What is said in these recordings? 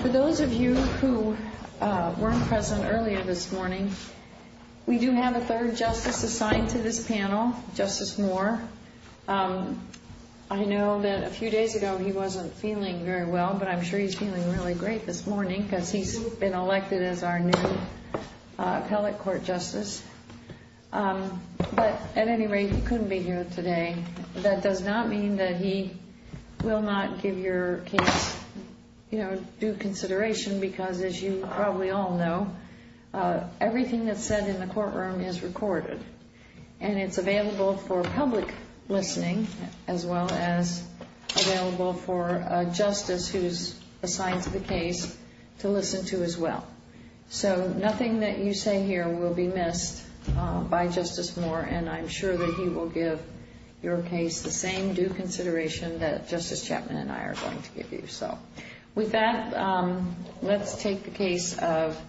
For those of you who weren't present earlier this morning, we do have a third justice assigned to this panel, Justice Moore. I know that a few days ago he wasn't feeling very well, but I'm sure he's feeling really great this morning because he's been elected as our new appellate court justice. But at any rate, he couldn't be here today. That does not mean that he will not give your case due consideration because, as you probably all know, everything that's said in the courtroom is recorded. And it's available for public listening as well as available for a justice who's assigned to the case to listen to as well. So nothing that you say here will be missed by Justice Moore, and I'm sure that he will give your case the same due consideration that Justice Chapman and I are going to give you. So with that, let's take the case of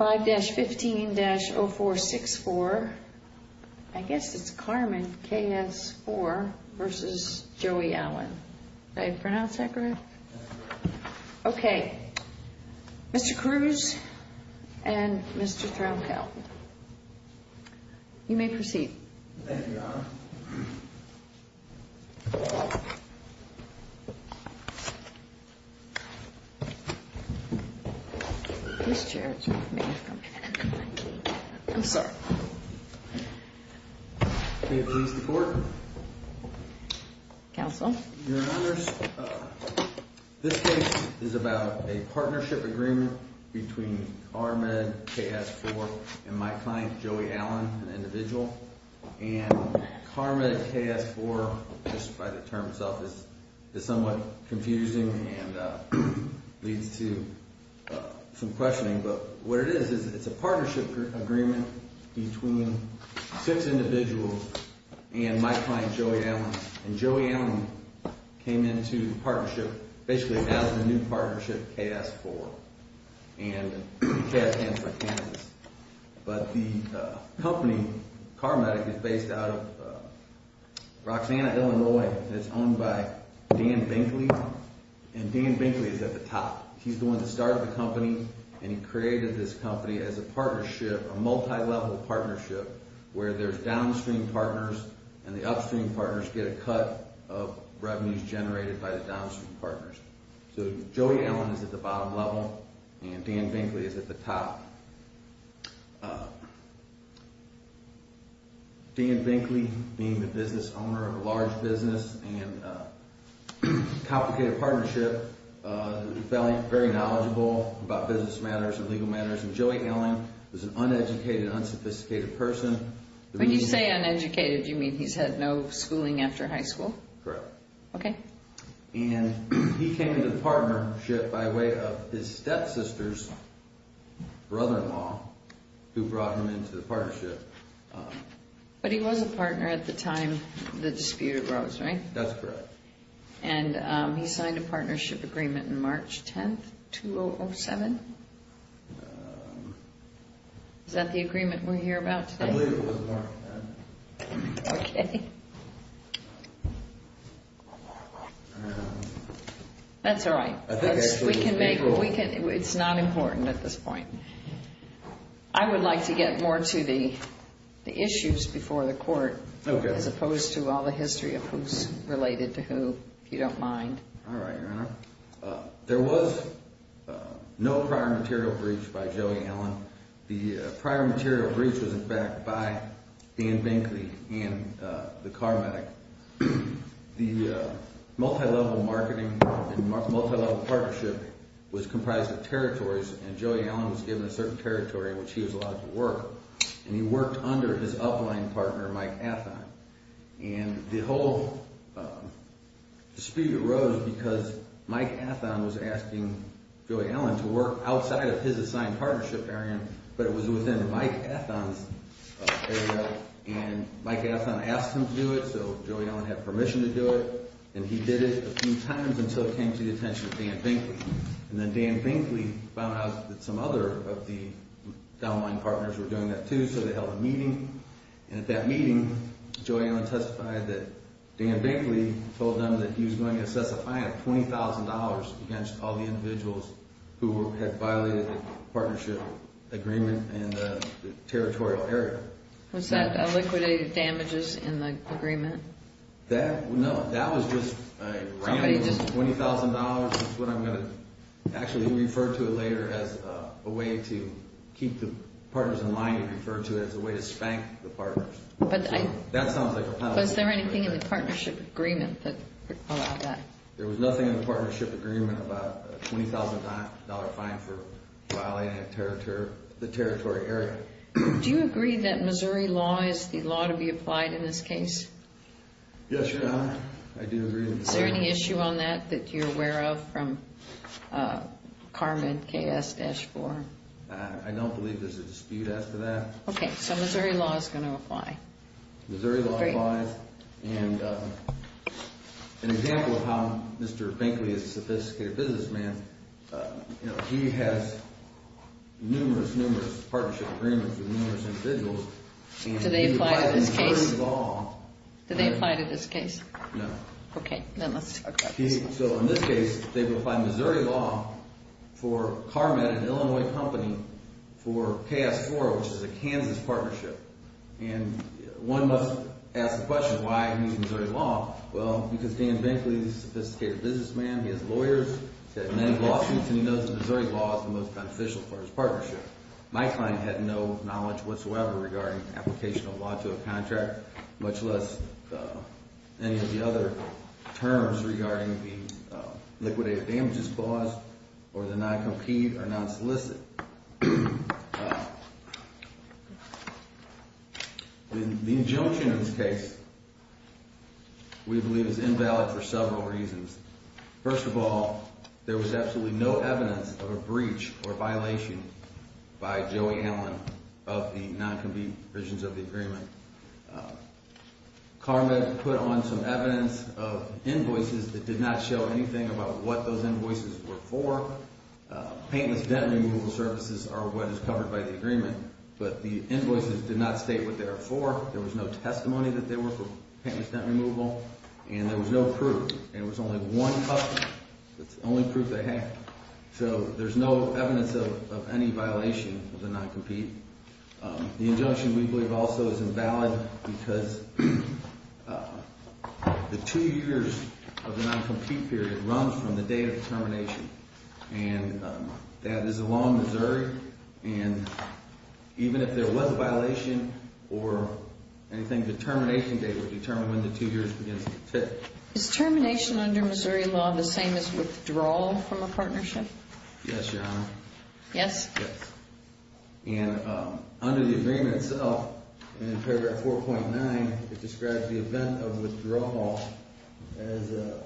5-15-0464. I guess it's Carmen KS-4 v. Joey Allen. Did I pronounce that correct? Okay. Mr. Cruz and Mr. Thromkel, you may proceed. Thank you, Your Honor. This chair is with me. I'm sorry. We approve the court. Counsel. Your Honor, this case is about a partnership agreement between Carmen KS-4 and my client Joey Allen, an individual. And Carmen KS-4, just by the term itself, is somewhat confusing and leads to some questioning. But what it is is it's a partnership agreement between six individuals and my client Joey Allen. And Joey Allen came into the partnership basically as the new partnership, KS-4, and KS-4 Kansas. But the company, Carmatic, is based out of Roxanna, Illinois, and it's owned by Dan Binkley. And Dan Binkley is at the top. He's the one that started the company and he created this company as a partnership, a multi-level partnership, where there's downstream partners and the upstream partners get a cut of revenues generated by the downstream partners. So Joey Allen is at the bottom level and Dan Binkley is at the top. Dan Binkley, being the business owner of a large business and a complicated partnership, very knowledgeable about business matters and legal matters, and Joey Allen is an uneducated, unsophisticated person. When you say uneducated, do you mean he's had no schooling after high school? Correct. Okay. And he came into the partnership by way of his stepsister's brother-in-law, who brought him into the partnership. But he was a partner at the time the dispute arose, right? That's correct. And he signed a partnership agreement on March 10th, 2007? Is that the agreement we're here about today? I believe it was March 10th. Okay. That's all right. It's not important at this point. I would like to get more to the issues before the court, as opposed to all the history of who's related to who, if you don't mind. All right, Your Honor. There was no prior material breach by Joey Allen. The prior material breach was, in fact, by Dan Binkley and the car medic. The multilevel marketing and multilevel partnership was comprised of territories, and Joey Allen was given a certain territory in which he was allowed to work. And he worked under his upline partner, Mike Athon. And the whole dispute arose because Mike Athon was asking Joey Allen to work outside of his assigned partnership area, but it was within Mike Athon's area. And Mike Athon asked him to do it, so Joey Allen had permission to do it, and he did it a few times until it came to the attention of Dan Binkley. And then Dan Binkley found out that some other of the downline partners were doing that, too, so they held a meeting. And at that meeting, Joey Allen testified that Dan Binkley told them that he was going to set a fine of $20,000 against all the individuals who had violated the partnership agreement in the territorial area. Was that liquidated damages in the agreement? No, that was just a round of $20,000. That's what I'm going to actually refer to it later as a way to keep the partners in line. He referred to it as a way to spank the partners. That sounds like a penalty. Was there anything in the partnership agreement that allowed that? There was nothing in the partnership agreement about a $20,000 fine for violating the territory area. Do you agree that Missouri law is the law to be applied in this case? Yes, Your Honor, I do agree. Is there any issue on that that you're aware of from Carmen KS-4? I don't believe there's a dispute as to that. Okay, so Missouri law is going to apply. Missouri law applies. An example of how Mr. Binkley is a sophisticated businessman, he has numerous, numerous partnership agreements with numerous individuals. Do they apply to this case? No. Okay, then let's talk about this. In this case, they've applied Missouri law for Carmen, an Illinois company, for KS-4, which is a Kansas partnership. And one must ask the question, why is he using Missouri law? Well, because Dan Binkley is a sophisticated businessman. He has lawyers. He's had many lawsuits, and he knows that Missouri law is the most beneficial for his partnership. My client had no knowledge whatsoever regarding application of law to a contract, much less any of the other terms regarding the liquidated damages clause or the non-compete or non-solicit. The injunction in this case we believe is invalid for several reasons. First of all, there was absolutely no evidence of a breach or violation by Joey Allen of the non-compete provisions of the agreement. Carmen put on some evidence of invoices that did not show anything about what those invoices were for. Painless dent removal services are what is covered by the agreement. But the invoices did not state what they were for. There was no testimony that they were for painless dent removal, and there was no proof. And there was only one copy. That's the only proof they had. So there's no evidence of any violation of the non-compete. The injunction we believe also is invalid because the two years of the non-compete period run from the date of termination. And that is a law in Missouri. And even if there was a violation or anything, the termination date would determine when the two years begins to fit. Is termination under Missouri law the same as withdrawal from a partnership? Yes, Your Honor. Yes? Yes. And under the agreement itself, and in paragraph 4.9, it describes the event of withdrawal as a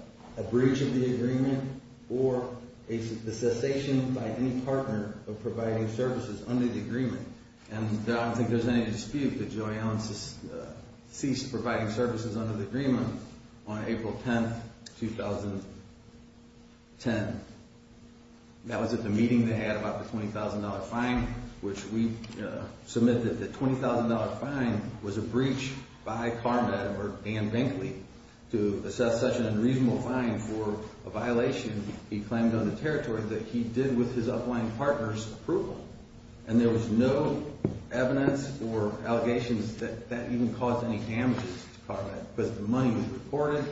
breach of the agreement or a cessation by any partner of providing services under the agreement. And I don't think there's any dispute that Joey Allen ceased providing services under the agreement on April 10, 2010. That was at the meeting they had about the $20,000 fine, which we submitted. The $20,000 fine was a breach by Carmett or Dan Binkley to assess such an unreasonable fine for a violation he claimed on the territory that he did with his upline partner's approval. And there was no evidence or allegations that that even caused any damages to Carmett. Because the money was reported.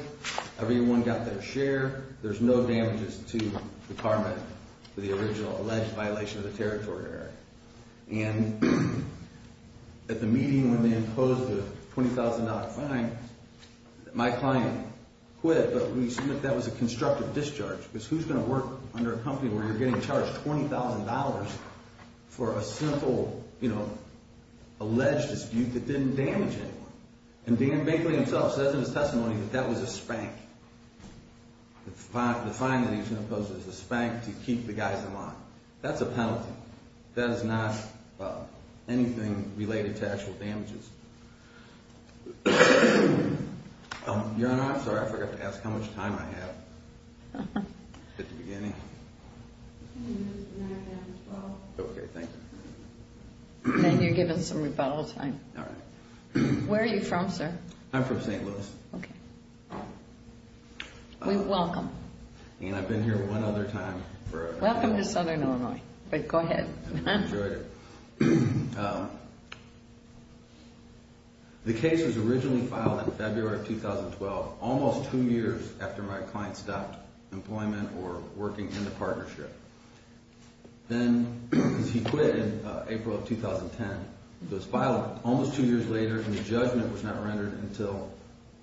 Everyone got their share. There's no damages to Carmett for the original alleged violation of the territory area. And at the meeting when they imposed the $20,000 fine, my client quit, but we submitted that was a constructive discharge. Because who's going to work under a company where you're getting charged $20,000 for a simple, you know, alleged dispute that didn't damage anyone? And Dan Binkley himself says in his testimony that that was a spank. The fine that he was going to impose was a spank to keep the guys in line. That's a penalty. That is not anything related to actual damages. Your Honor, I'm sorry, I forgot to ask how much time I have. At the beginning. Okay, thank you. Then you're given some rebuttal time. All right. Where are you from, sir? I'm from St. Louis. Okay. We welcome. And I've been here one other time. Welcome to Southern Illinois. But go ahead. I've enjoyed it. The case was originally filed in February of 2012, almost two years after my client stopped employment or working in the partnership. Then he quit in April of 2010. It was filed almost two years later, and the judgment was not rendered until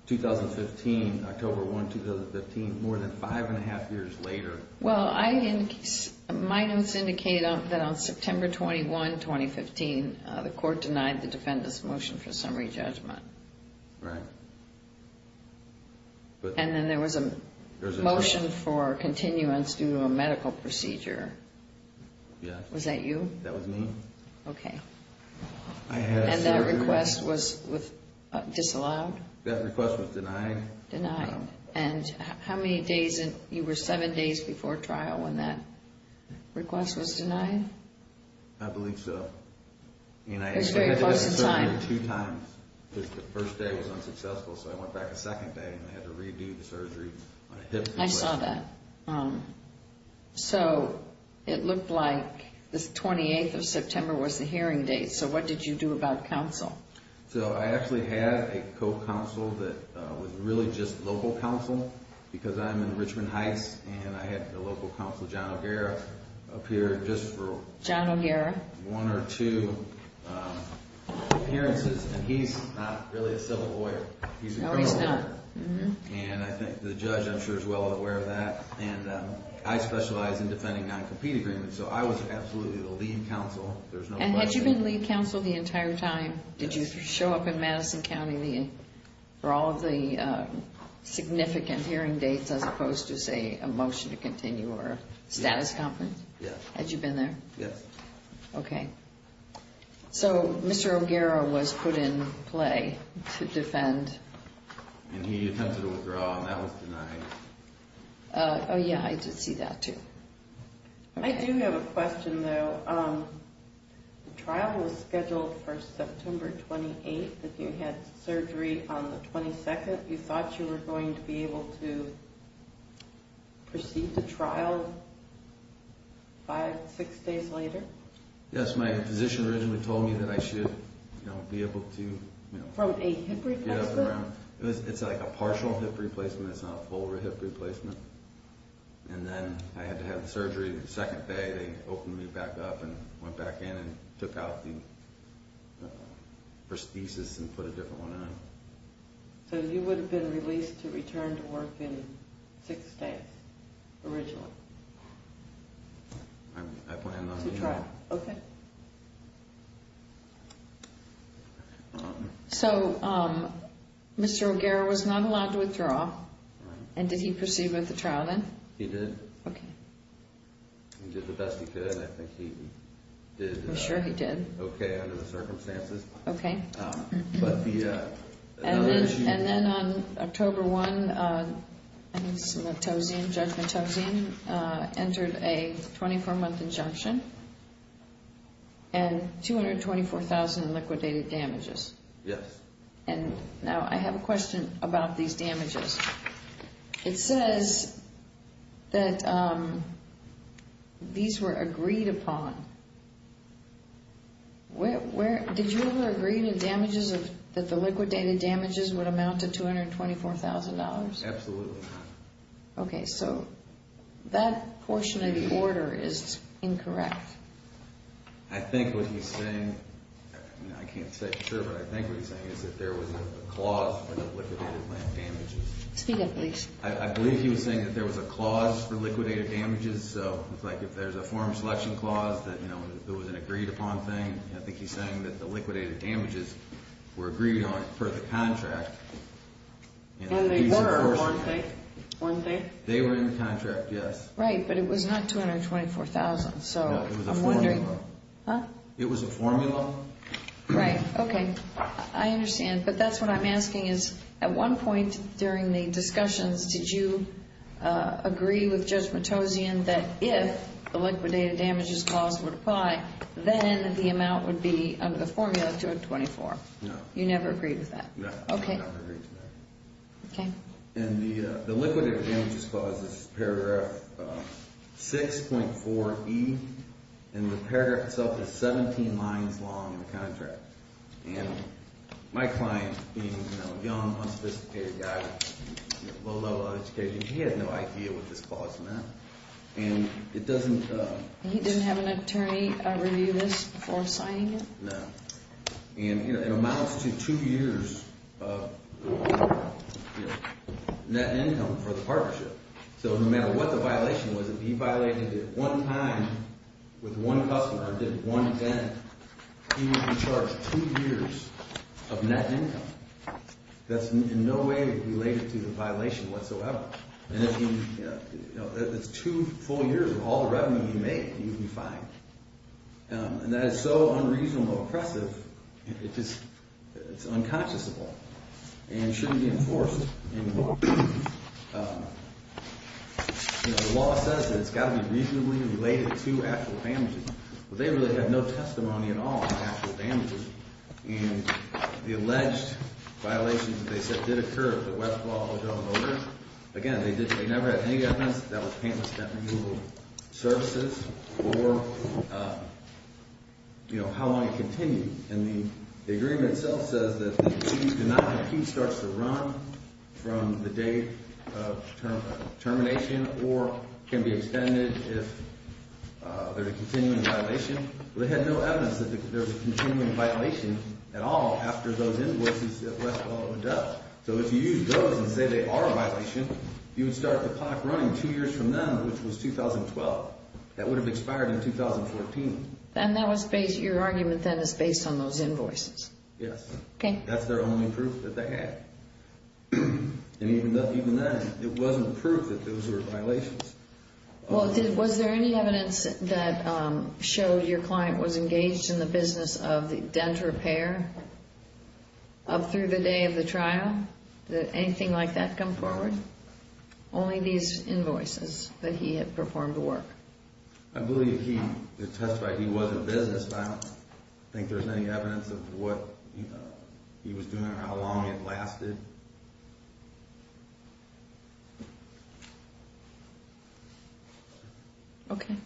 2015, October 1, 2015, more than five and a half years later. Well, my notes indicate that on September 21, 2015, the court denied the defendant's motion for summary judgment. Right. And then there was a motion for continuance due to a medical procedure. Yes. Was that you? That was me. Okay. And that request was disallowed? That request was denied. Denied. And how many days, you were seven days before trial when that request was denied? I believe so. It was very close in time. The first day was unsuccessful, so I went back a second day, and I had to redo the surgery on a hip replacement. I saw that. So it looked like the 28th of September was the hearing date. So what did you do about counsel? So I actually had a co-counsel that was really just local counsel because I'm in Richmond Heights, and I had the local counsel, John O'Hara, appear just for one or two hearings. And he's not really a civil lawyer. He's a criminal lawyer. No, he's not. And I think the judge, I'm sure, is well aware of that. And I specialize in defending non-compete agreements, so I was absolutely the lead counsel. And had you been lead counsel the entire time? Yes. Did you show up in Madison County for all of the significant hearing dates as opposed to, say, a motion to continue or a status conference? Yes. Had you been there? Yes. Okay. So Mr. O'Gara was put in play to defend. And he attempted to withdraw, and that was denied. Oh, yeah, I did see that, too. I do have a question, though. The trial was scheduled for September 28th. If you had surgery on the 22nd, you thought you were going to be able to proceed to trial five, six days later? Yes. My physician originally told me that I should be able to get up and around. From a hip replacement? It's like a partial hip replacement. It's not a full hip replacement. And then I had to have surgery the second day. They opened me back up and went back in and took out the prosthesis and put a different one on. So you would have been released to return to work in six days originally? I plan not to. Okay. So Mr. O'Gara was not allowed to withdraw, and did he proceed with the trial then? He did. Okay. He did the best he could, and I think he did okay under the circumstances. Okay. And then on October 1, Judge Metozian entered a 24-month injunction and 224,000 liquidated damages. Yes. And now I have a question about these damages. It says that these were agreed upon. Did you ever agree that the liquidated damages would amount to $224,000? Absolutely not. Okay. So that portion of the order is incorrect. I think what he's saying, I can't say for sure, but I think what he's saying is that there was a clause for the liquidated damages. Speak up, please. I believe he was saying that there was a clause for liquidated damages. So it looks like if there's a form selection clause that, you know, there was an agreed upon thing, I think he's saying that the liquidated damages were agreed on per the contract. And they were, weren't they? They were in the contract, yes. Right, but it was not 224,000. No, it was a formula. Huh? It was a formula. Right. Okay. I understand, but that's what I'm asking is, at one point during the discussions, did you agree with Judge Matossian that if the liquidated damages clause were to apply, then the amount would be, under the formula, 224? No. You never agreed with that? No, I never agreed to that. Okay. And the liquidated damages clause is paragraph 6.4E, and the paragraph itself is 17 lines long in the contract. And my client, being, you know, a young, unsophisticated guy with a low level of education, he had no idea what this clause meant. And it doesn't – He didn't have an attorney review this before signing it? No. And, you know, it amounts to two years of net income for the partnership. So no matter what the violation was, if he violated it one time with one customer, did it one again, he would be charged two years of net income. That's in no way related to the violation whatsoever. And it's two full years of all the revenue you make that you can find. And that is so unreasonable, oppressive, it's unconscionable and shouldn't be enforced anymore. You know, the law says that it's got to be reasonably related to actual damages. Well, they really have no testimony at all on actual damages. And the alleged violations that they said did occur, the Westlaw, O'Donnell Motors, again, they never had any evidence. That was Pantless Net Renewal Services for, you know, how long it continued. And the agreement itself says that if you do not compete, starts to run from the date of termination or can be extended if there's a continuing violation. Well, they had no evidence that there was a continuing violation at all after those invoices that Westlaw had done. So if you use those and say they are a violation, you would start the clock running two years from then, which was 2012. That would have expired in 2014. And your argument then is based on those invoices? Yes. Okay. That's their only proof that they had. And even then, it wasn't proof that those were violations. Well, was there any evidence that showed your client was engaged in the business of dent repair up through the day of the trial? Did anything like that come forward? Only these invoices that he had performed the work. I believe he testified he was in business, but I don't think there's any evidence of what he was doing or how long it lasted. Okay.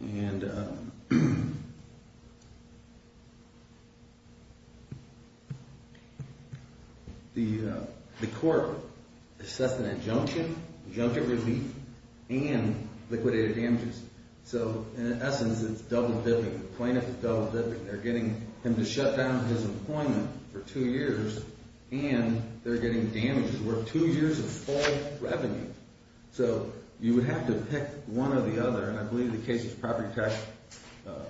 And the court assessed an injunction, injunction relief, and liquidated damages. So in essence, it's double-dipping. The plaintiff is double-dipping. They're getting him to shut down his employment for two years, and they're getting damages worth two years of full revenue. So you would have to pick one or the other, and I believe the case is Property Tax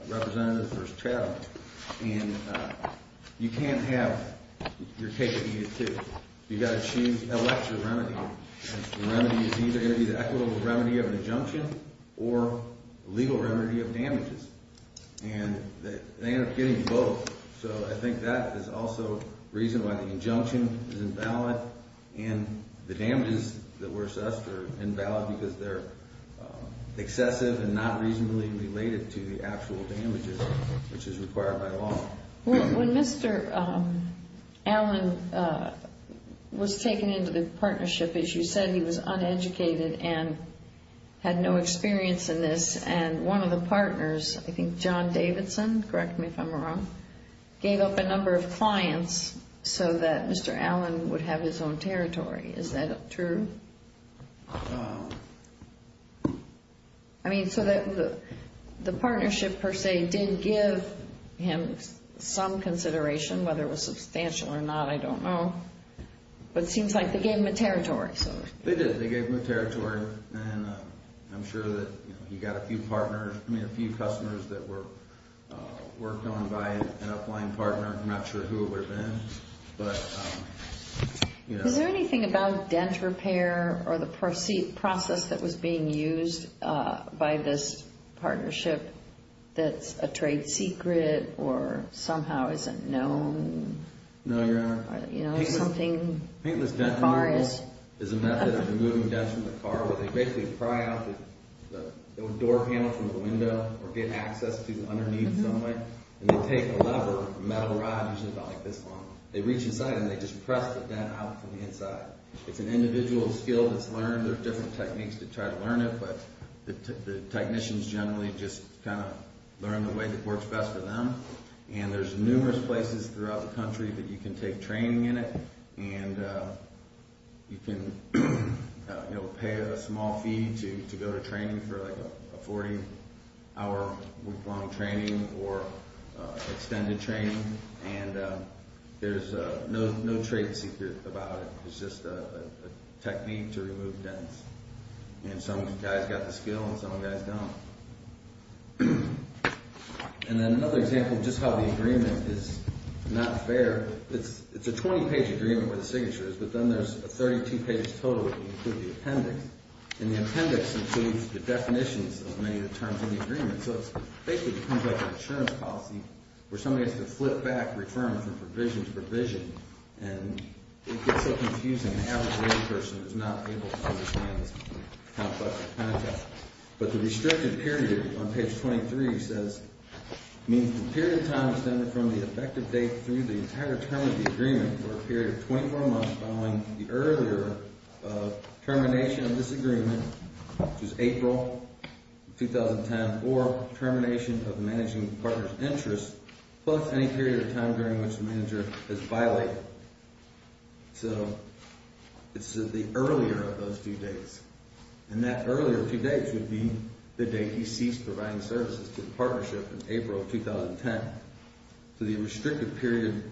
Representative v. Chatham. And you can't have your case be a two. You've got to choose, elect your remedy. And the remedy is either going to be the equitable remedy of an injunction or legal remedy of damages. And they end up getting both. So I think that is also reason why the injunction is invalid and the damages that were assessed are invalid because they're excessive and not reasonably related to the actual damages, which is required by law. When Mr. Allen was taken into the partnership, as you said, he was uneducated and had no experience in this. And one of the partners, I think John Davidson, correct me if I'm wrong, gave up a number of clients so that Mr. Allen would have his own territory. Is that true? I mean, so the partnership, per se, did give him some consideration, whether it was substantial or not, I don't know. But it seems like they gave him a territory. They did. They gave him a territory. And I'm sure that he got a few partners, I mean, a few customers that were worked on by an upline partner. I'm not sure who it would have been. Is there anything about dent repair or the process that was being used by this partnership that's a trade secret or somehow isn't known? No, Your Honor. Paintless dent removal is a method of removing dents from the car where they basically pry out the door panel from the window or get access to underneath somewhere. And they take a lever, a metal rod, which is about this long. They reach inside and they just press the dent out from the inside. It's an individual skill that's learned. There are different techniques to try to learn it, but the technicians generally just kind of learn the way that works best for them. And there's numerous places throughout the country that you can take training in it. And you can pay a small fee to go to training for like a 40-hour week-long training or extended training. And there's no trade secret about it. It's just a technique to remove dents. And some guys got the skill and some guys don't. And then another example of just how the agreement is not fair. It's a 20-page agreement where the signature is, but then there's a 32-page total that includes the appendix. And the appendix includes the definitions of many of the terms in the agreement. So it basically becomes like an insurance policy where somebody has to flip back, return from provision to provision. And it gets so confusing. An average layperson is not able to understand this complex process. But the restricted period on page 23 says, means the period of time extended from the effective date through the entire term of the agreement for a period of 24 months following the earlier termination of this agreement, which is April 2010, or termination of the managing partner's interest plus any period of time during which the manager has violated. So it's the earlier of those two dates. And that earlier two dates would be the date he ceased providing services to the partnership in April of 2010. So the restricted period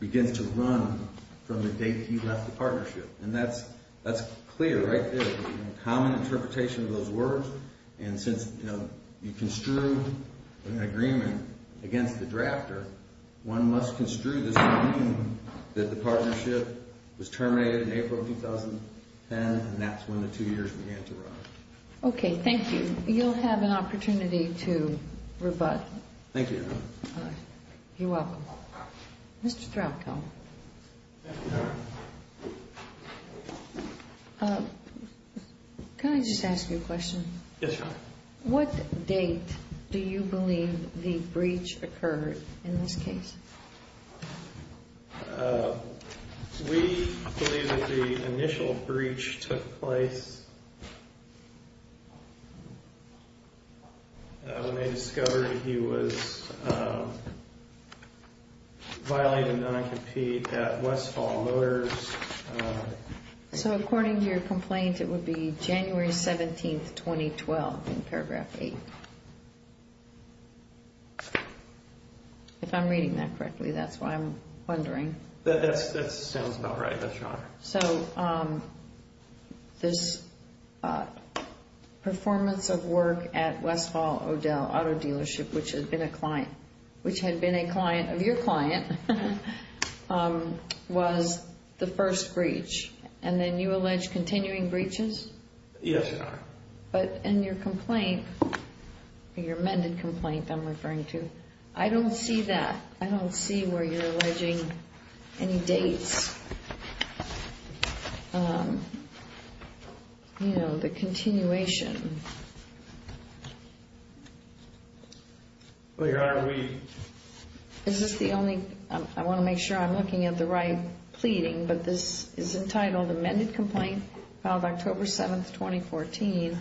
begins to run from the date he left the partnership. And that's clear right there. It's a common interpretation of those words. And since you construe an agreement against the drafter, one must construe this agreement that the partnership was terminated in April of 2010. And that's when the two years began to run. Okay, thank you. You'll have an opportunity to rebut. Thank you, Your Honor. All right. You're welcome. Mr. Throckill. Yes, Your Honor. Can I just ask you a question? Yes, Your Honor. What date do you believe the breach occurred in this case? We believe that the initial breach took place when they discovered he was violating non-compete at Westfall Motors. So according to your complaint, it would be January 17th, 2012 in paragraph 8. If I'm reading that correctly, that's why I'm wondering. So this performance of work at Westfall O'Dell Auto Dealership, which had been a client of your client, was the first breach. And then you allege continuing breaches? Yes, Your Honor. But in your complaint, your amended complaint I'm referring to, I don't see that. I don't see where you're alleging any dates. You know, the continuation. Well, Your Honor, we... Is this the only... I want to make sure I'm looking at the right pleading. But this is entitled Amended Complaint, filed October 7th, 2014.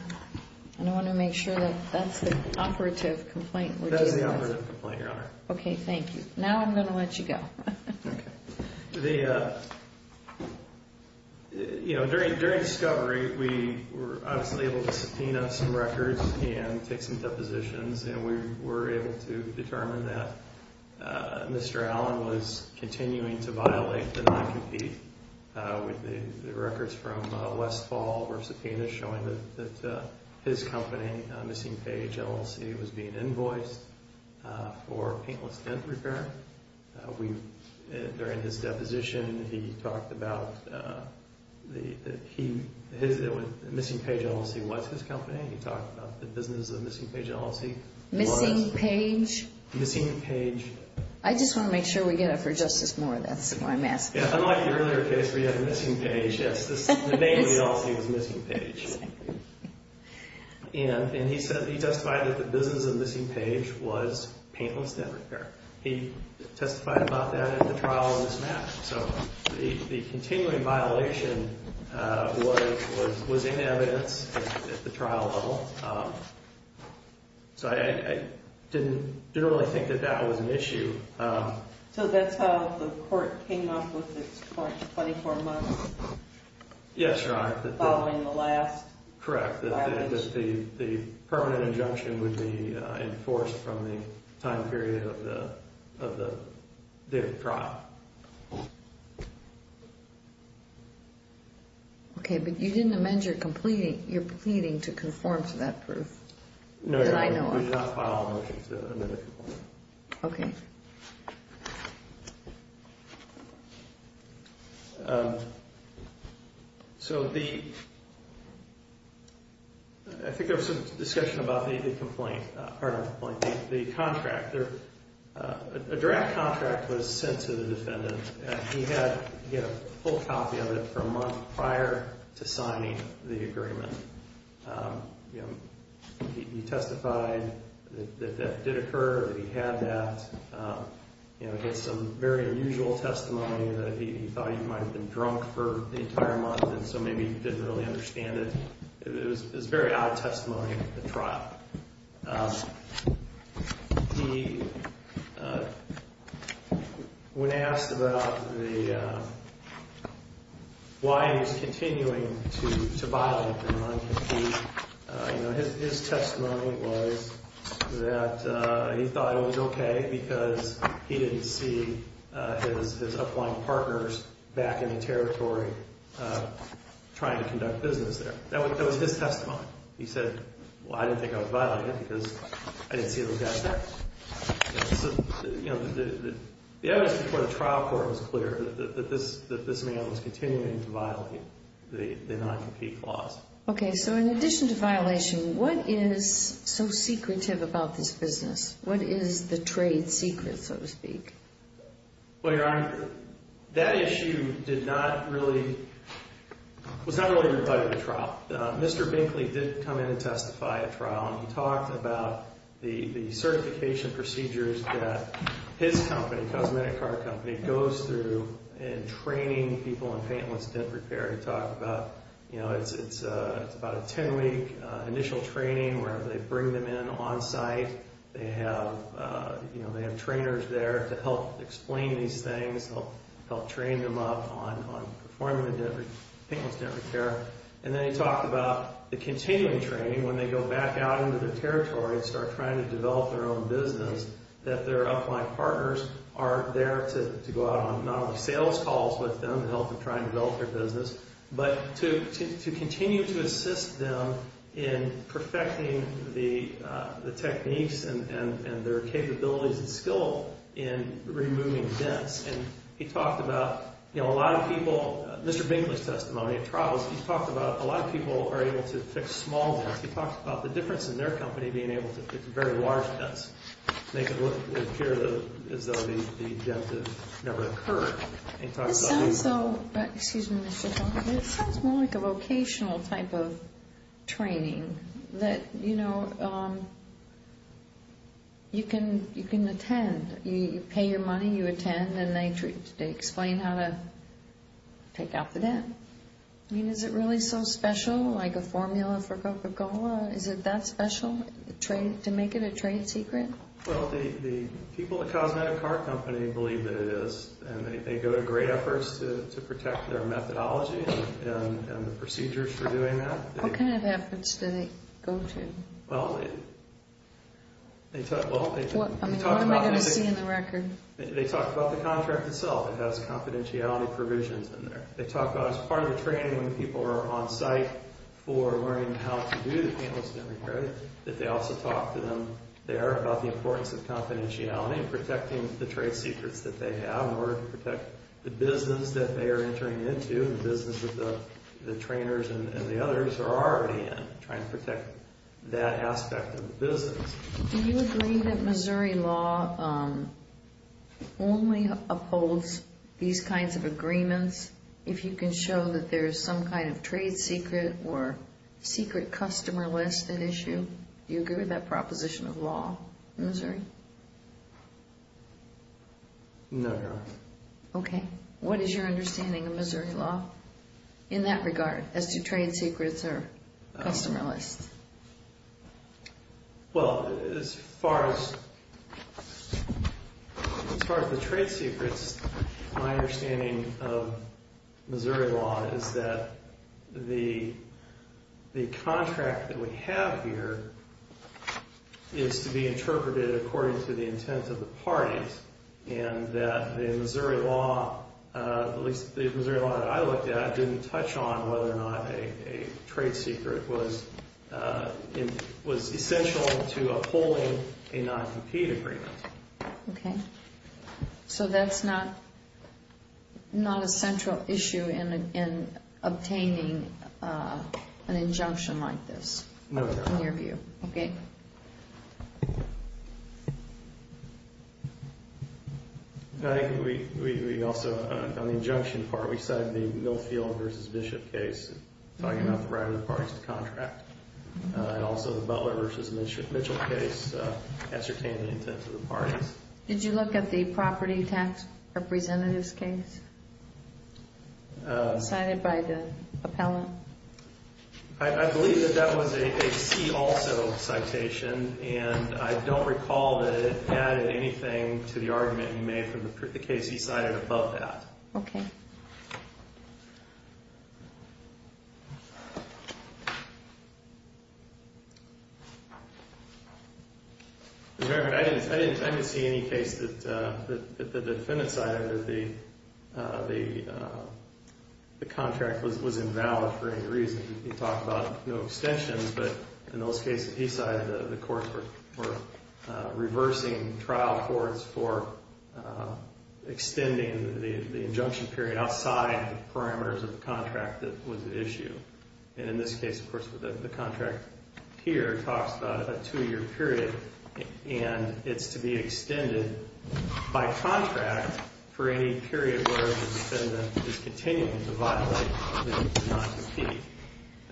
And I want to make sure that that's the operative complaint we're dealing with. That is the operative complaint, Your Honor. Okay, thank you. Now I'm going to let you go. Okay. You know, during discovery, we were obviously able to subpoena some records and take some depositions. And we were able to determine that Mr. Allen was continuing to violate the non-compete. The records from Westfall were subpoenaed showing that his company, Missing Page LLC, was being invoiced for painless dent repair. During his deposition, he talked about... Missing Page LLC was his company. He talked about the business of Missing Page LLC. Missing Page? Missing Page. I just want to make sure we get it for Justice Moore. That's why I'm asking. Unlike the earlier case where you had Missing Page, yes, the name of the LLC was Missing Page. And he testified that the business of Missing Page was painless dent repair. He testified about that in the trial on this matter. So the continuing violation was in evidence at the trial level. So I didn't really think that that was an issue. So that's how the court came up with its 24 months? Yes, Your Honor. Following the last violation? Correct. The permanent injunction would be enforced from the time period of the trial. Okay, but you didn't amend your pleading to conform to that proof that I know of. No, Your Honor. We did not file a motion to amend it. Okay. So the, I think there was some discussion about the complaint, pardon me, the contract. A direct contract was sent to the defendant, and he had to get a full copy of it for a month prior to signing the agreement. You know, he testified that that did occur, that he had that. You know, he had some very unusual testimony that he thought he might have been drunk for the entire month, and so maybe he didn't really understand it. It was very odd testimony at the trial. He, when asked about the, why he was continuing to violate the non-compete, you know, his testimony was that he thought it was okay because he didn't see his upline partners back in the territory trying to conduct business there. That was his testimony. He said, well, I didn't think I was violating it because I didn't see those guys there. So, you know, the evidence before the trial court was clear that this man was continuing to violate the non-compete clause. Okay, so in addition to violation, what is so secretive about this business? What is the trade secret, so to speak? Well, Your Honor, that issue did not really, was not really invited to trial. Mr. Binkley did come in and testify at trial, and he talked about the certification procedures that his company, Cosmetic Car Company, goes through in training people in painless dent repair. He talked about, you know, it's about a 10-week initial training where they bring them in on-site. They have, you know, they have trainers there to help explain these things, help train them up on performing the painless dent repair. And then he talked about the continuing training when they go back out into their territory and start trying to develop their own business, that their upline partners are there to go out on not only sales calls with them to help them try and develop their business, but to continue to assist them in perfecting the techniques and their capabilities and skill in removing dents. And he talked about, you know, a lot of people, Mr. Binkley's testimony at trial, he talked about a lot of people are able to fix small dents. He talked about the difference in their company being able to fix very large dents, make it look, appear as though the dents have never occurred. It sounds so, excuse me, Mr. Donovan, it sounds more like a vocational type of training that, you know, you can attend. You pay your money, you attend, and they explain how to take out the dent. I mean, is it really so special, like a formula for Coca-Cola? Is it that special to make it a trade secret? Well, the people at Cosmetic Car Company believe that it is, and they go to great efforts to protect their methodology and the procedures for doing that. What kind of efforts do they go to? What am I going to see in the record? They talk about the contract itself. It has confidentiality provisions in there. They talk about as part of the training when people are on site for learning how to do the painless dent repair, that they also talk to them there about the importance of confidentiality and protecting the trade secrets that they have in order to protect the business that they are entering into and the business that the trainers and the others are already in, trying to protect that aspect of the business. Do you agree that Missouri law only upholds these kinds of agreements if you can show that there is some kind of trade secret or secret customer list at issue? Do you agree with that proposition of law in Missouri? No, Your Honor. Okay. What is your understanding of Missouri law in that regard as to trade secrets or customer lists? Well, as far as the trade secrets, my understanding of Missouri law is that the contract that we have here is to be interpreted according to the intent of the parties and that the Missouri law, at least the Missouri law that I looked at, didn't touch on whether or not a trade secret was essential to upholding a non-compete agreement. Okay. So that's not a central issue in obtaining an injunction like this? No, Your Honor. In your view. Okay. I think we also, on the injunction part, we cited the Millfield v. Bishop case talking about the right of the parties to contract and also the Butler v. Mitchell case ascertaining the intent of the parties. Did you look at the property tax representative's case cited by the appellant? I believe that that was a see also citation and I don't recall that it added anything to the argument you made for the case he cited above that. Okay. Your Honor, I didn't see any case that the defendant cited that the contract was invalid for any reason. He talked about no extensions, but in those cases he cited, the courts were reversing trial courts for extending the injunction period outside the parameters of the contract that was at issue. And in this case, of course, the contract here talks about a two-year period and it's to be extended by contract for any period where the defendant is continuing to violate the contract. And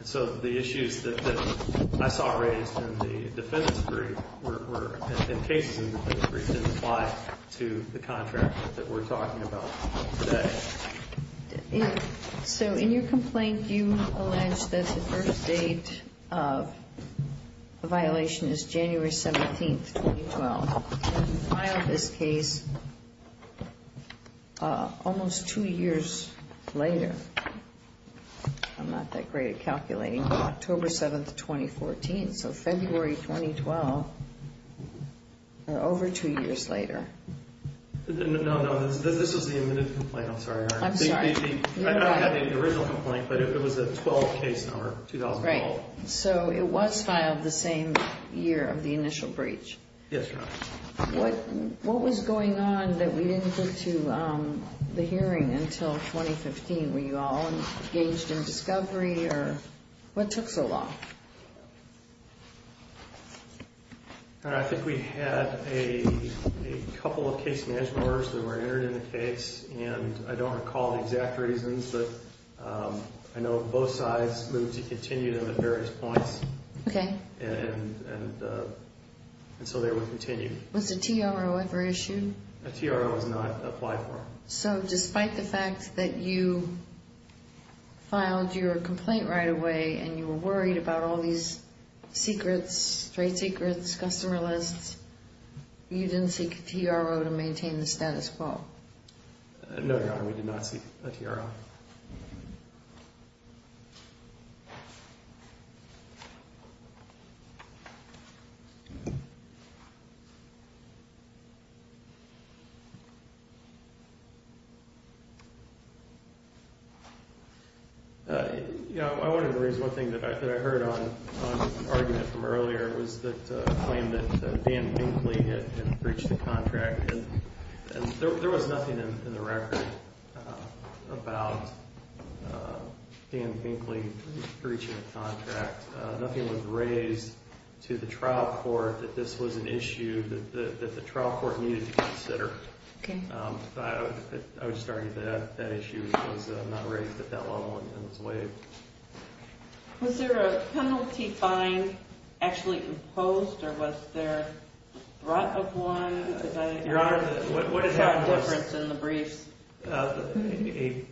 so the issues that I saw raised in the defendant's brief and cases in the defendant's brief didn't apply to the contract that we're talking about today. So in your complaint, you allege that the first date of the violation is January 17, 2012. You filed this case almost two years later. I'm not that great at calculating. October 7, 2014. So February 2012 or over two years later. No, no, this was the admitted complaint. I'm sorry, Your Honor. I'm sorry. I don't have the original complaint, but it was a 12 case number, 2012. Right. So it was filed the same year of the initial breach. Yes, Your Honor. What was going on that we didn't get to the hearing until 2015? Were you all engaged in discovery or what took so long? I think we had a couple of case management orders that were entered in the case. And I don't recall the exact reasons, but I know both sides moved to continue them at various points. Okay. And so they would continue. Was a TRO ever issued? A TRO was not applied for. So despite the fact that you filed your complaint right away and you were worried about all these secrets, trade secrets, customer lists, you didn't seek a TRO to maintain the status quo? No, Your Honor, we did not seek a TRO. Okay. You know, I wanted to raise one thing that I heard on this argument from earlier, was the claim that Dan Binkley had breached the contract. And there was nothing in the record about Dan Binkley breaching the contract. Nothing was raised to the trial court that this was an issue that the trial court needed to consider. Okay. I was just arguing that that issue was not raised at that level and was waived. Was there a penalty fine actually imposed or was there a threat of one? Your Honor, what is our difference in the briefs? There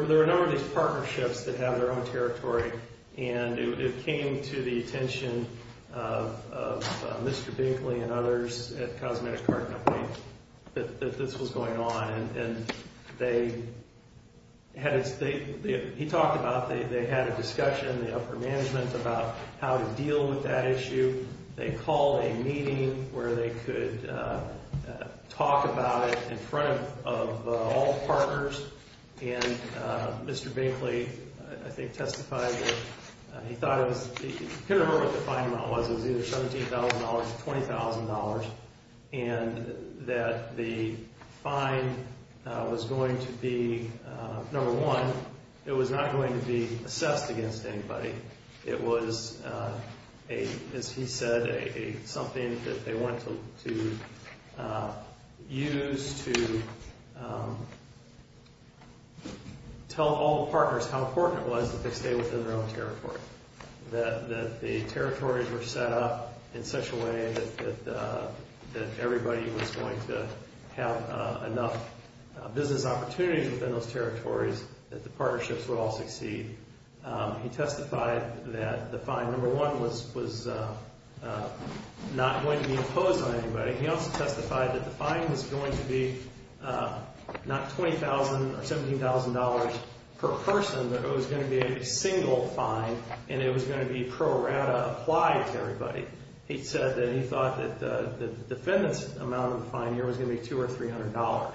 were a number of these partnerships that have their own territory, and it came to the attention of Mr. Binkley and others at the Cosmetic Cart Company that this was going on. And they had a—he talked about they had a discussion in the upper management about how to deal with that issue. They called a meeting where they could talk about it in front of all partners. And Mr. Binkley, I think, testified that he thought it was—he couldn't remember what the fine amount was. It was either $17,000 or $20,000. And that the fine was going to be, number one, it was not going to be assessed against anybody. It was, as he said, something that they wanted to use to tell all the partners how important it was that they stay within their own territory, that the territories were set up in such a way that everybody was going to have enough business opportunities within those territories that the partnerships would all succeed. He testified that the fine, number one, was not going to be imposed on anybody. He also testified that the fine was going to be not $20,000 or $17,000 per person, but it was going to be a single fine, and it was going to be pro rata applied to everybody. He said that he thought that the defendant's amount of the fine here was going to be $200 or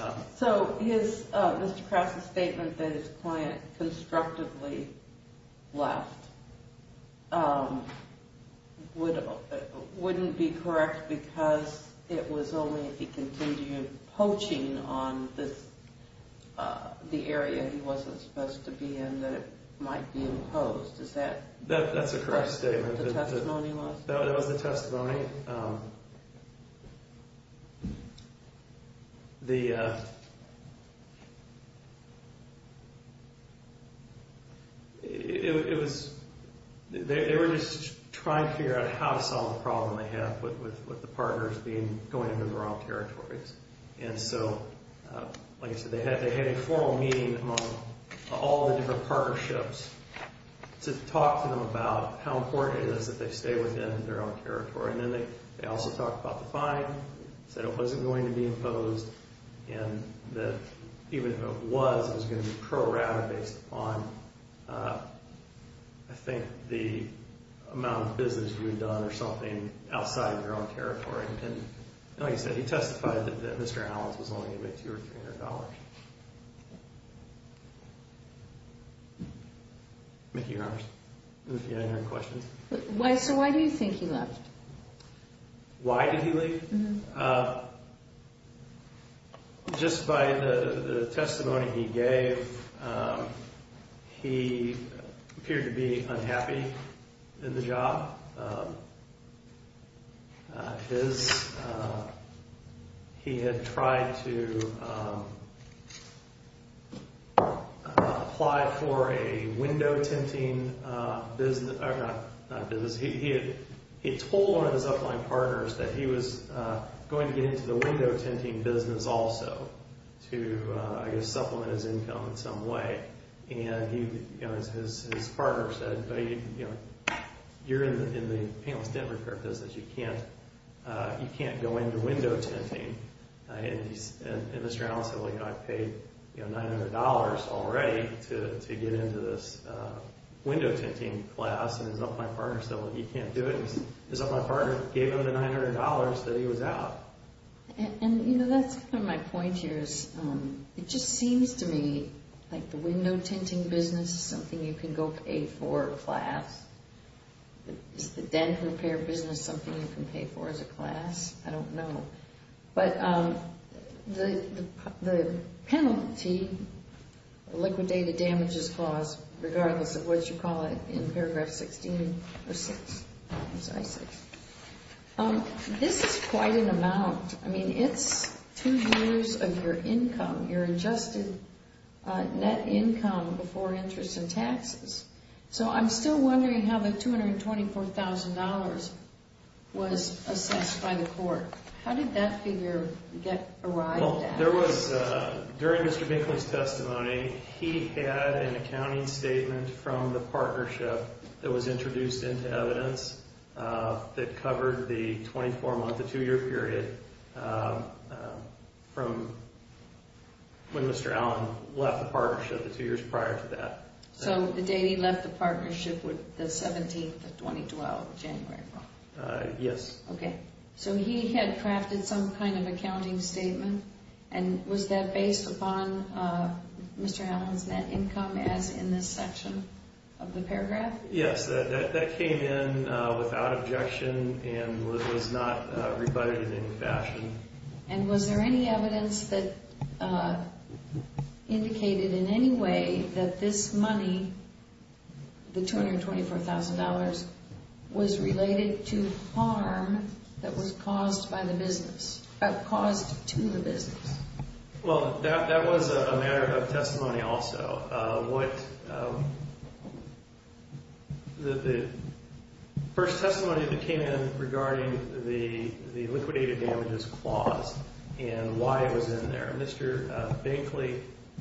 $300. So his—Mr. Krause's statement that his client constructively left wouldn't be correct because it was only if he continued poaching on the area he wasn't supposed to be in that it might be imposed. Is that— That's a correct statement. —the testimony was? That was the testimony. It was—they were just trying to figure out how to solve the problem they had with the partners being—going into the wrong territories. And so, like I said, they had a formal meeting among all the different partnerships to talk to them about how important it is that they stay within their own territory. And then they also talked about the fine, said it wasn't going to be imposed, and that even if it was, it was going to be pro rata based upon, I think, the amount of business we had done or something outside of their own territory. And like I said, he testified that Mr. Allen's was only going to be $200 or $300. Thank you, Your Honors. If you have any other questions. So why do you think he left? Why did he leave? Just by the testimony he gave, he appeared to be unhappy in the job. His—he had tried to apply for a window tinting business—not business, he had told one of his upline partners that he was going to get into the window tinting business also to, I guess, supplement his income in some way. And his partner said, you're in the painless dent repair business, you can't go into window tinting. And Mr. Allen said, well, you know, I paid $900 already to get into this window tinting class. And his upline partner said, well, you can't do it. And his upline partner gave him the $900 that he was out. And, you know, that's kind of my point here is it just seems to me like the window tinting business is something you can go pay for a class. Is the dent repair business something you can pay for as a class? I don't know. But the penalty, liquidated damages caused, regardless of what you call it in paragraph 16 or 6, I'm sorry, 6. This is quite an amount. I mean, it's two years of your income, your adjusted net income before interest and taxes. So I'm still wondering how the $224,000 was assessed by the court. How did that figure get arrived at? There was, during Mr. Binkley's testimony, he had an accounting statement from the partnership that was introduced into evidence that covered the 24-month to two-year period from when Mr. Allen left the partnership the two years prior to that. So the date he left the partnership was the 17th of 2012, January. Yes. Okay. So he had crafted some kind of accounting statement, and was that based upon Mr. Allen's net income as in this section of the paragraph? Yes. That came in without objection and was not rebutted in any fashion. And was there any evidence that indicated in any way that this money, the $224,000, was related to harm that was caused by the business, caused to the business? Well, that was a matter of testimony also. The first testimony that came in regarding the liquidated damages clause and why it was in there, Mr. Binkley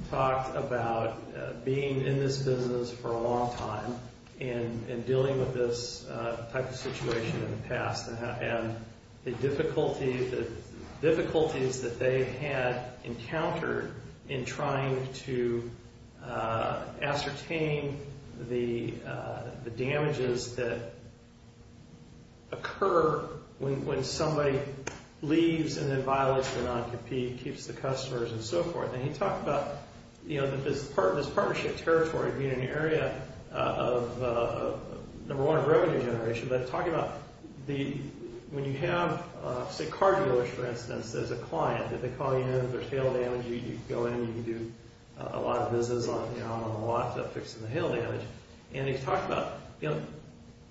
talked about being in this business for a long time and dealing with this type of situation in the past. And the difficulties that they had encountered in trying to ascertain the damages that occur when somebody leaves and then violates their non-compete, keeps the customers and so forth. And he talked about this partnership territory being an area of, number one, of revenue generation. But he talked about when you have, say, car dealers, for instance, as a client, that they call you in if there's hail damage. You go in and you can do a lot of business on the lot fixing the hail damage. And he talked about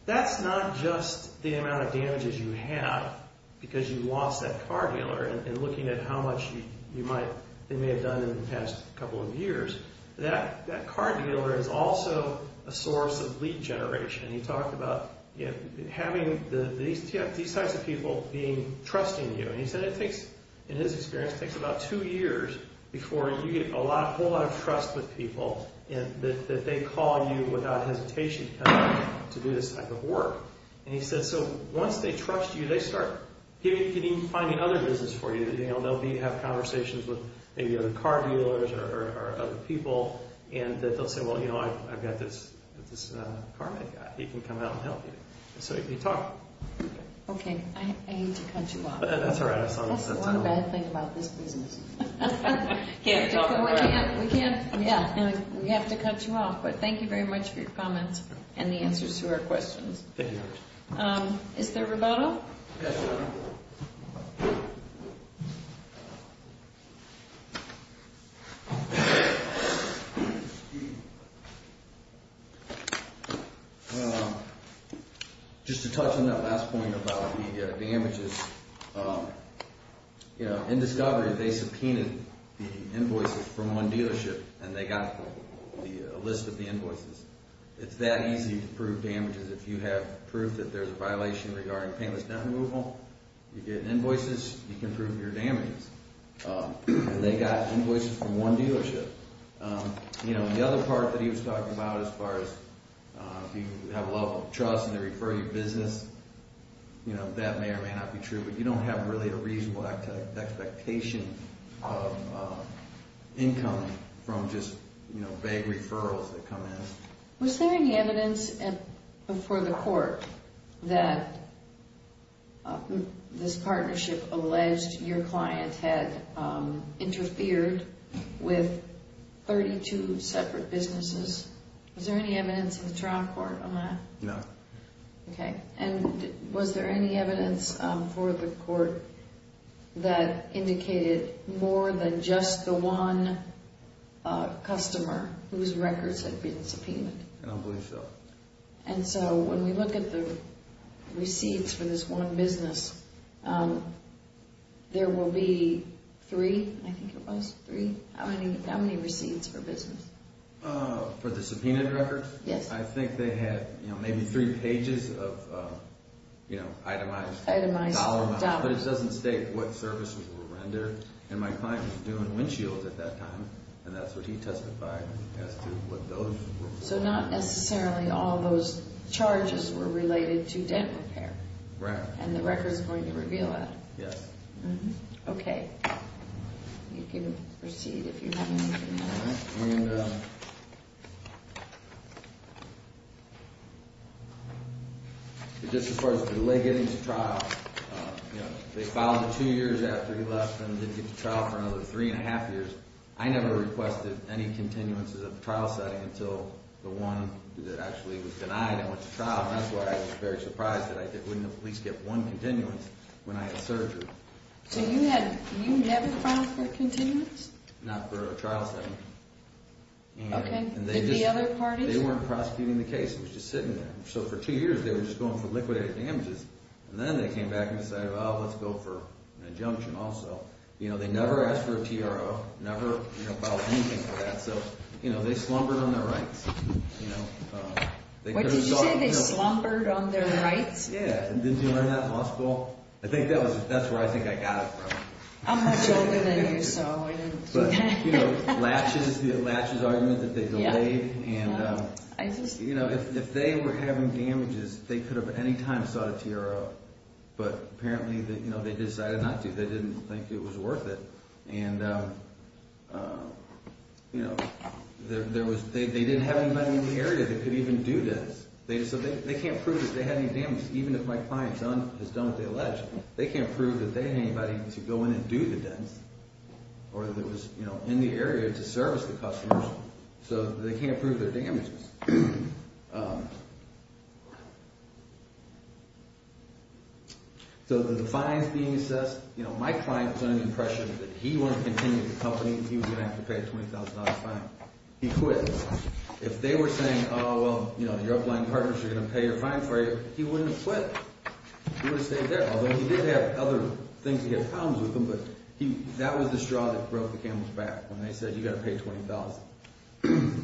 that's not just the amount of damages you have because you lost that car dealer and looking at how much they may have done in the past couple of years. That car dealer is also a source of lead generation. He talked about having these types of people trusting you. And he said it takes, in his experience, it takes about two years before you get a whole lot of trust with people that they call you without hesitation to do this type of work. And he said, so once they trust you, they start finding other business for you. They'll have conversations with maybe other car dealers or other people. And they'll say, well, you know, I've got this car guy. He can come out and help you. So he talked. Okay. I hate to cut you off. That's all right. That's the one bad thing about this business. We have to cut you off. But thank you very much for your comments and the answers to our questions. Thank you very much. Is there a rebuttal? Yes, ma'am. Just to touch on that last point about the damages, you know, in discovery, they subpoenaed the invoices from one dealership and they got a list of the invoices. It's that easy to prove damages. If you have proof that there's a violation regarding painless death removal, you get invoices, you can prove your damages. And they got invoices from one dealership. You know, the other part that he was talking about as far as if you have a level of trust and they refer you to business, you know, that may or may not be true. But you don't have really a reasonable expectation of income from just, you know, vague referrals that come in. Was there any evidence for the court that this partnership alleged your client had interfered with 32 separate businesses? Was there any evidence in the trial court on that? No. Okay. And was there any evidence for the court that indicated more than just the one customer whose records had been subpoenaed? I don't believe so. And so when we look at the receipts for this one business, there will be three, I think it was, three? How many receipts for business? For the subpoenaed records? Yes. I think they had, you know, maybe three pages of, you know, itemized dollars. Itemized dollars. But it doesn't state what services were rendered. And my client was doing windshields at that time, and that's what he testified as to what those were. So not necessarily all those charges were related to dent repair. Right. And the record's going to reveal that. Yes. Okay. You can proceed if you have anything else. All right. And just as far as delay getting to trial, you know, they filed two years after he left and didn't get to trial for another three and a half years. I never requested any continuances of the trial setting until the one that actually was denied and went to trial, and that's why I was very surprised that I didn't at least get one continuance when I had surgery. So you never filed for continuance? Not for a trial setting. Okay. Did the other parties? They weren't prosecuting the case. It was just sitting there. So for two years, they were just going for liquidated damages. And then they came back and decided, well, let's go for an injunction also. You know, they never asked for a TRO, never filed anything for that. So, you know, they slumbered on their rights. What did you say? They slumbered on their rights? Yeah. Didn't you learn that in law school? I think that's where I think I got it from. I'm much older than you, so I didn't. But, you know, latches, the latches argument that they delayed. And, you know, if they were having damages, they could have at any time sought a TRO. But apparently, you know, they decided not to. They didn't think it was worth it. And, you know, they didn't have anybody in the area that could even do this. So they can't prove that they had any damage. Even if my client has done what they alleged, they can't prove that they had anybody to go in and do the damage or that was, you know, in the area to service the customers. So they can't prove their damages. So the fines being assessed, you know, my client was under the impression that he wouldn't continue the company and he was going to have to pay a $20,000 fine. He quit. If they were saying, oh, well, you know, your upline partners are going to pay your fine for you, he wouldn't quit. He would have stayed there. Although he did have other things. He had pounds with him. But that was the straw that broke the camel's back when they said you got to pay $20,000.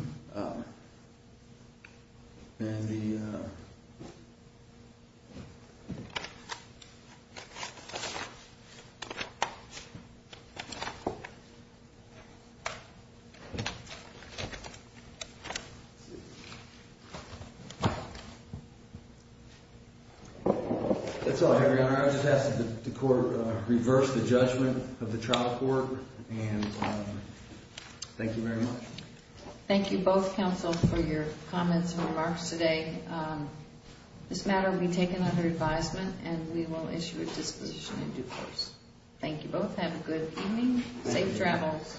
That's all, Your Honor. I just ask that the court reverse the judgment of the trial court. And thank you very much. Thank you both, counsel, for your comments and remarks today. This matter will be taken under advisement and we will issue a disposition in due course. Thank you both. Have a good evening. Safe travels.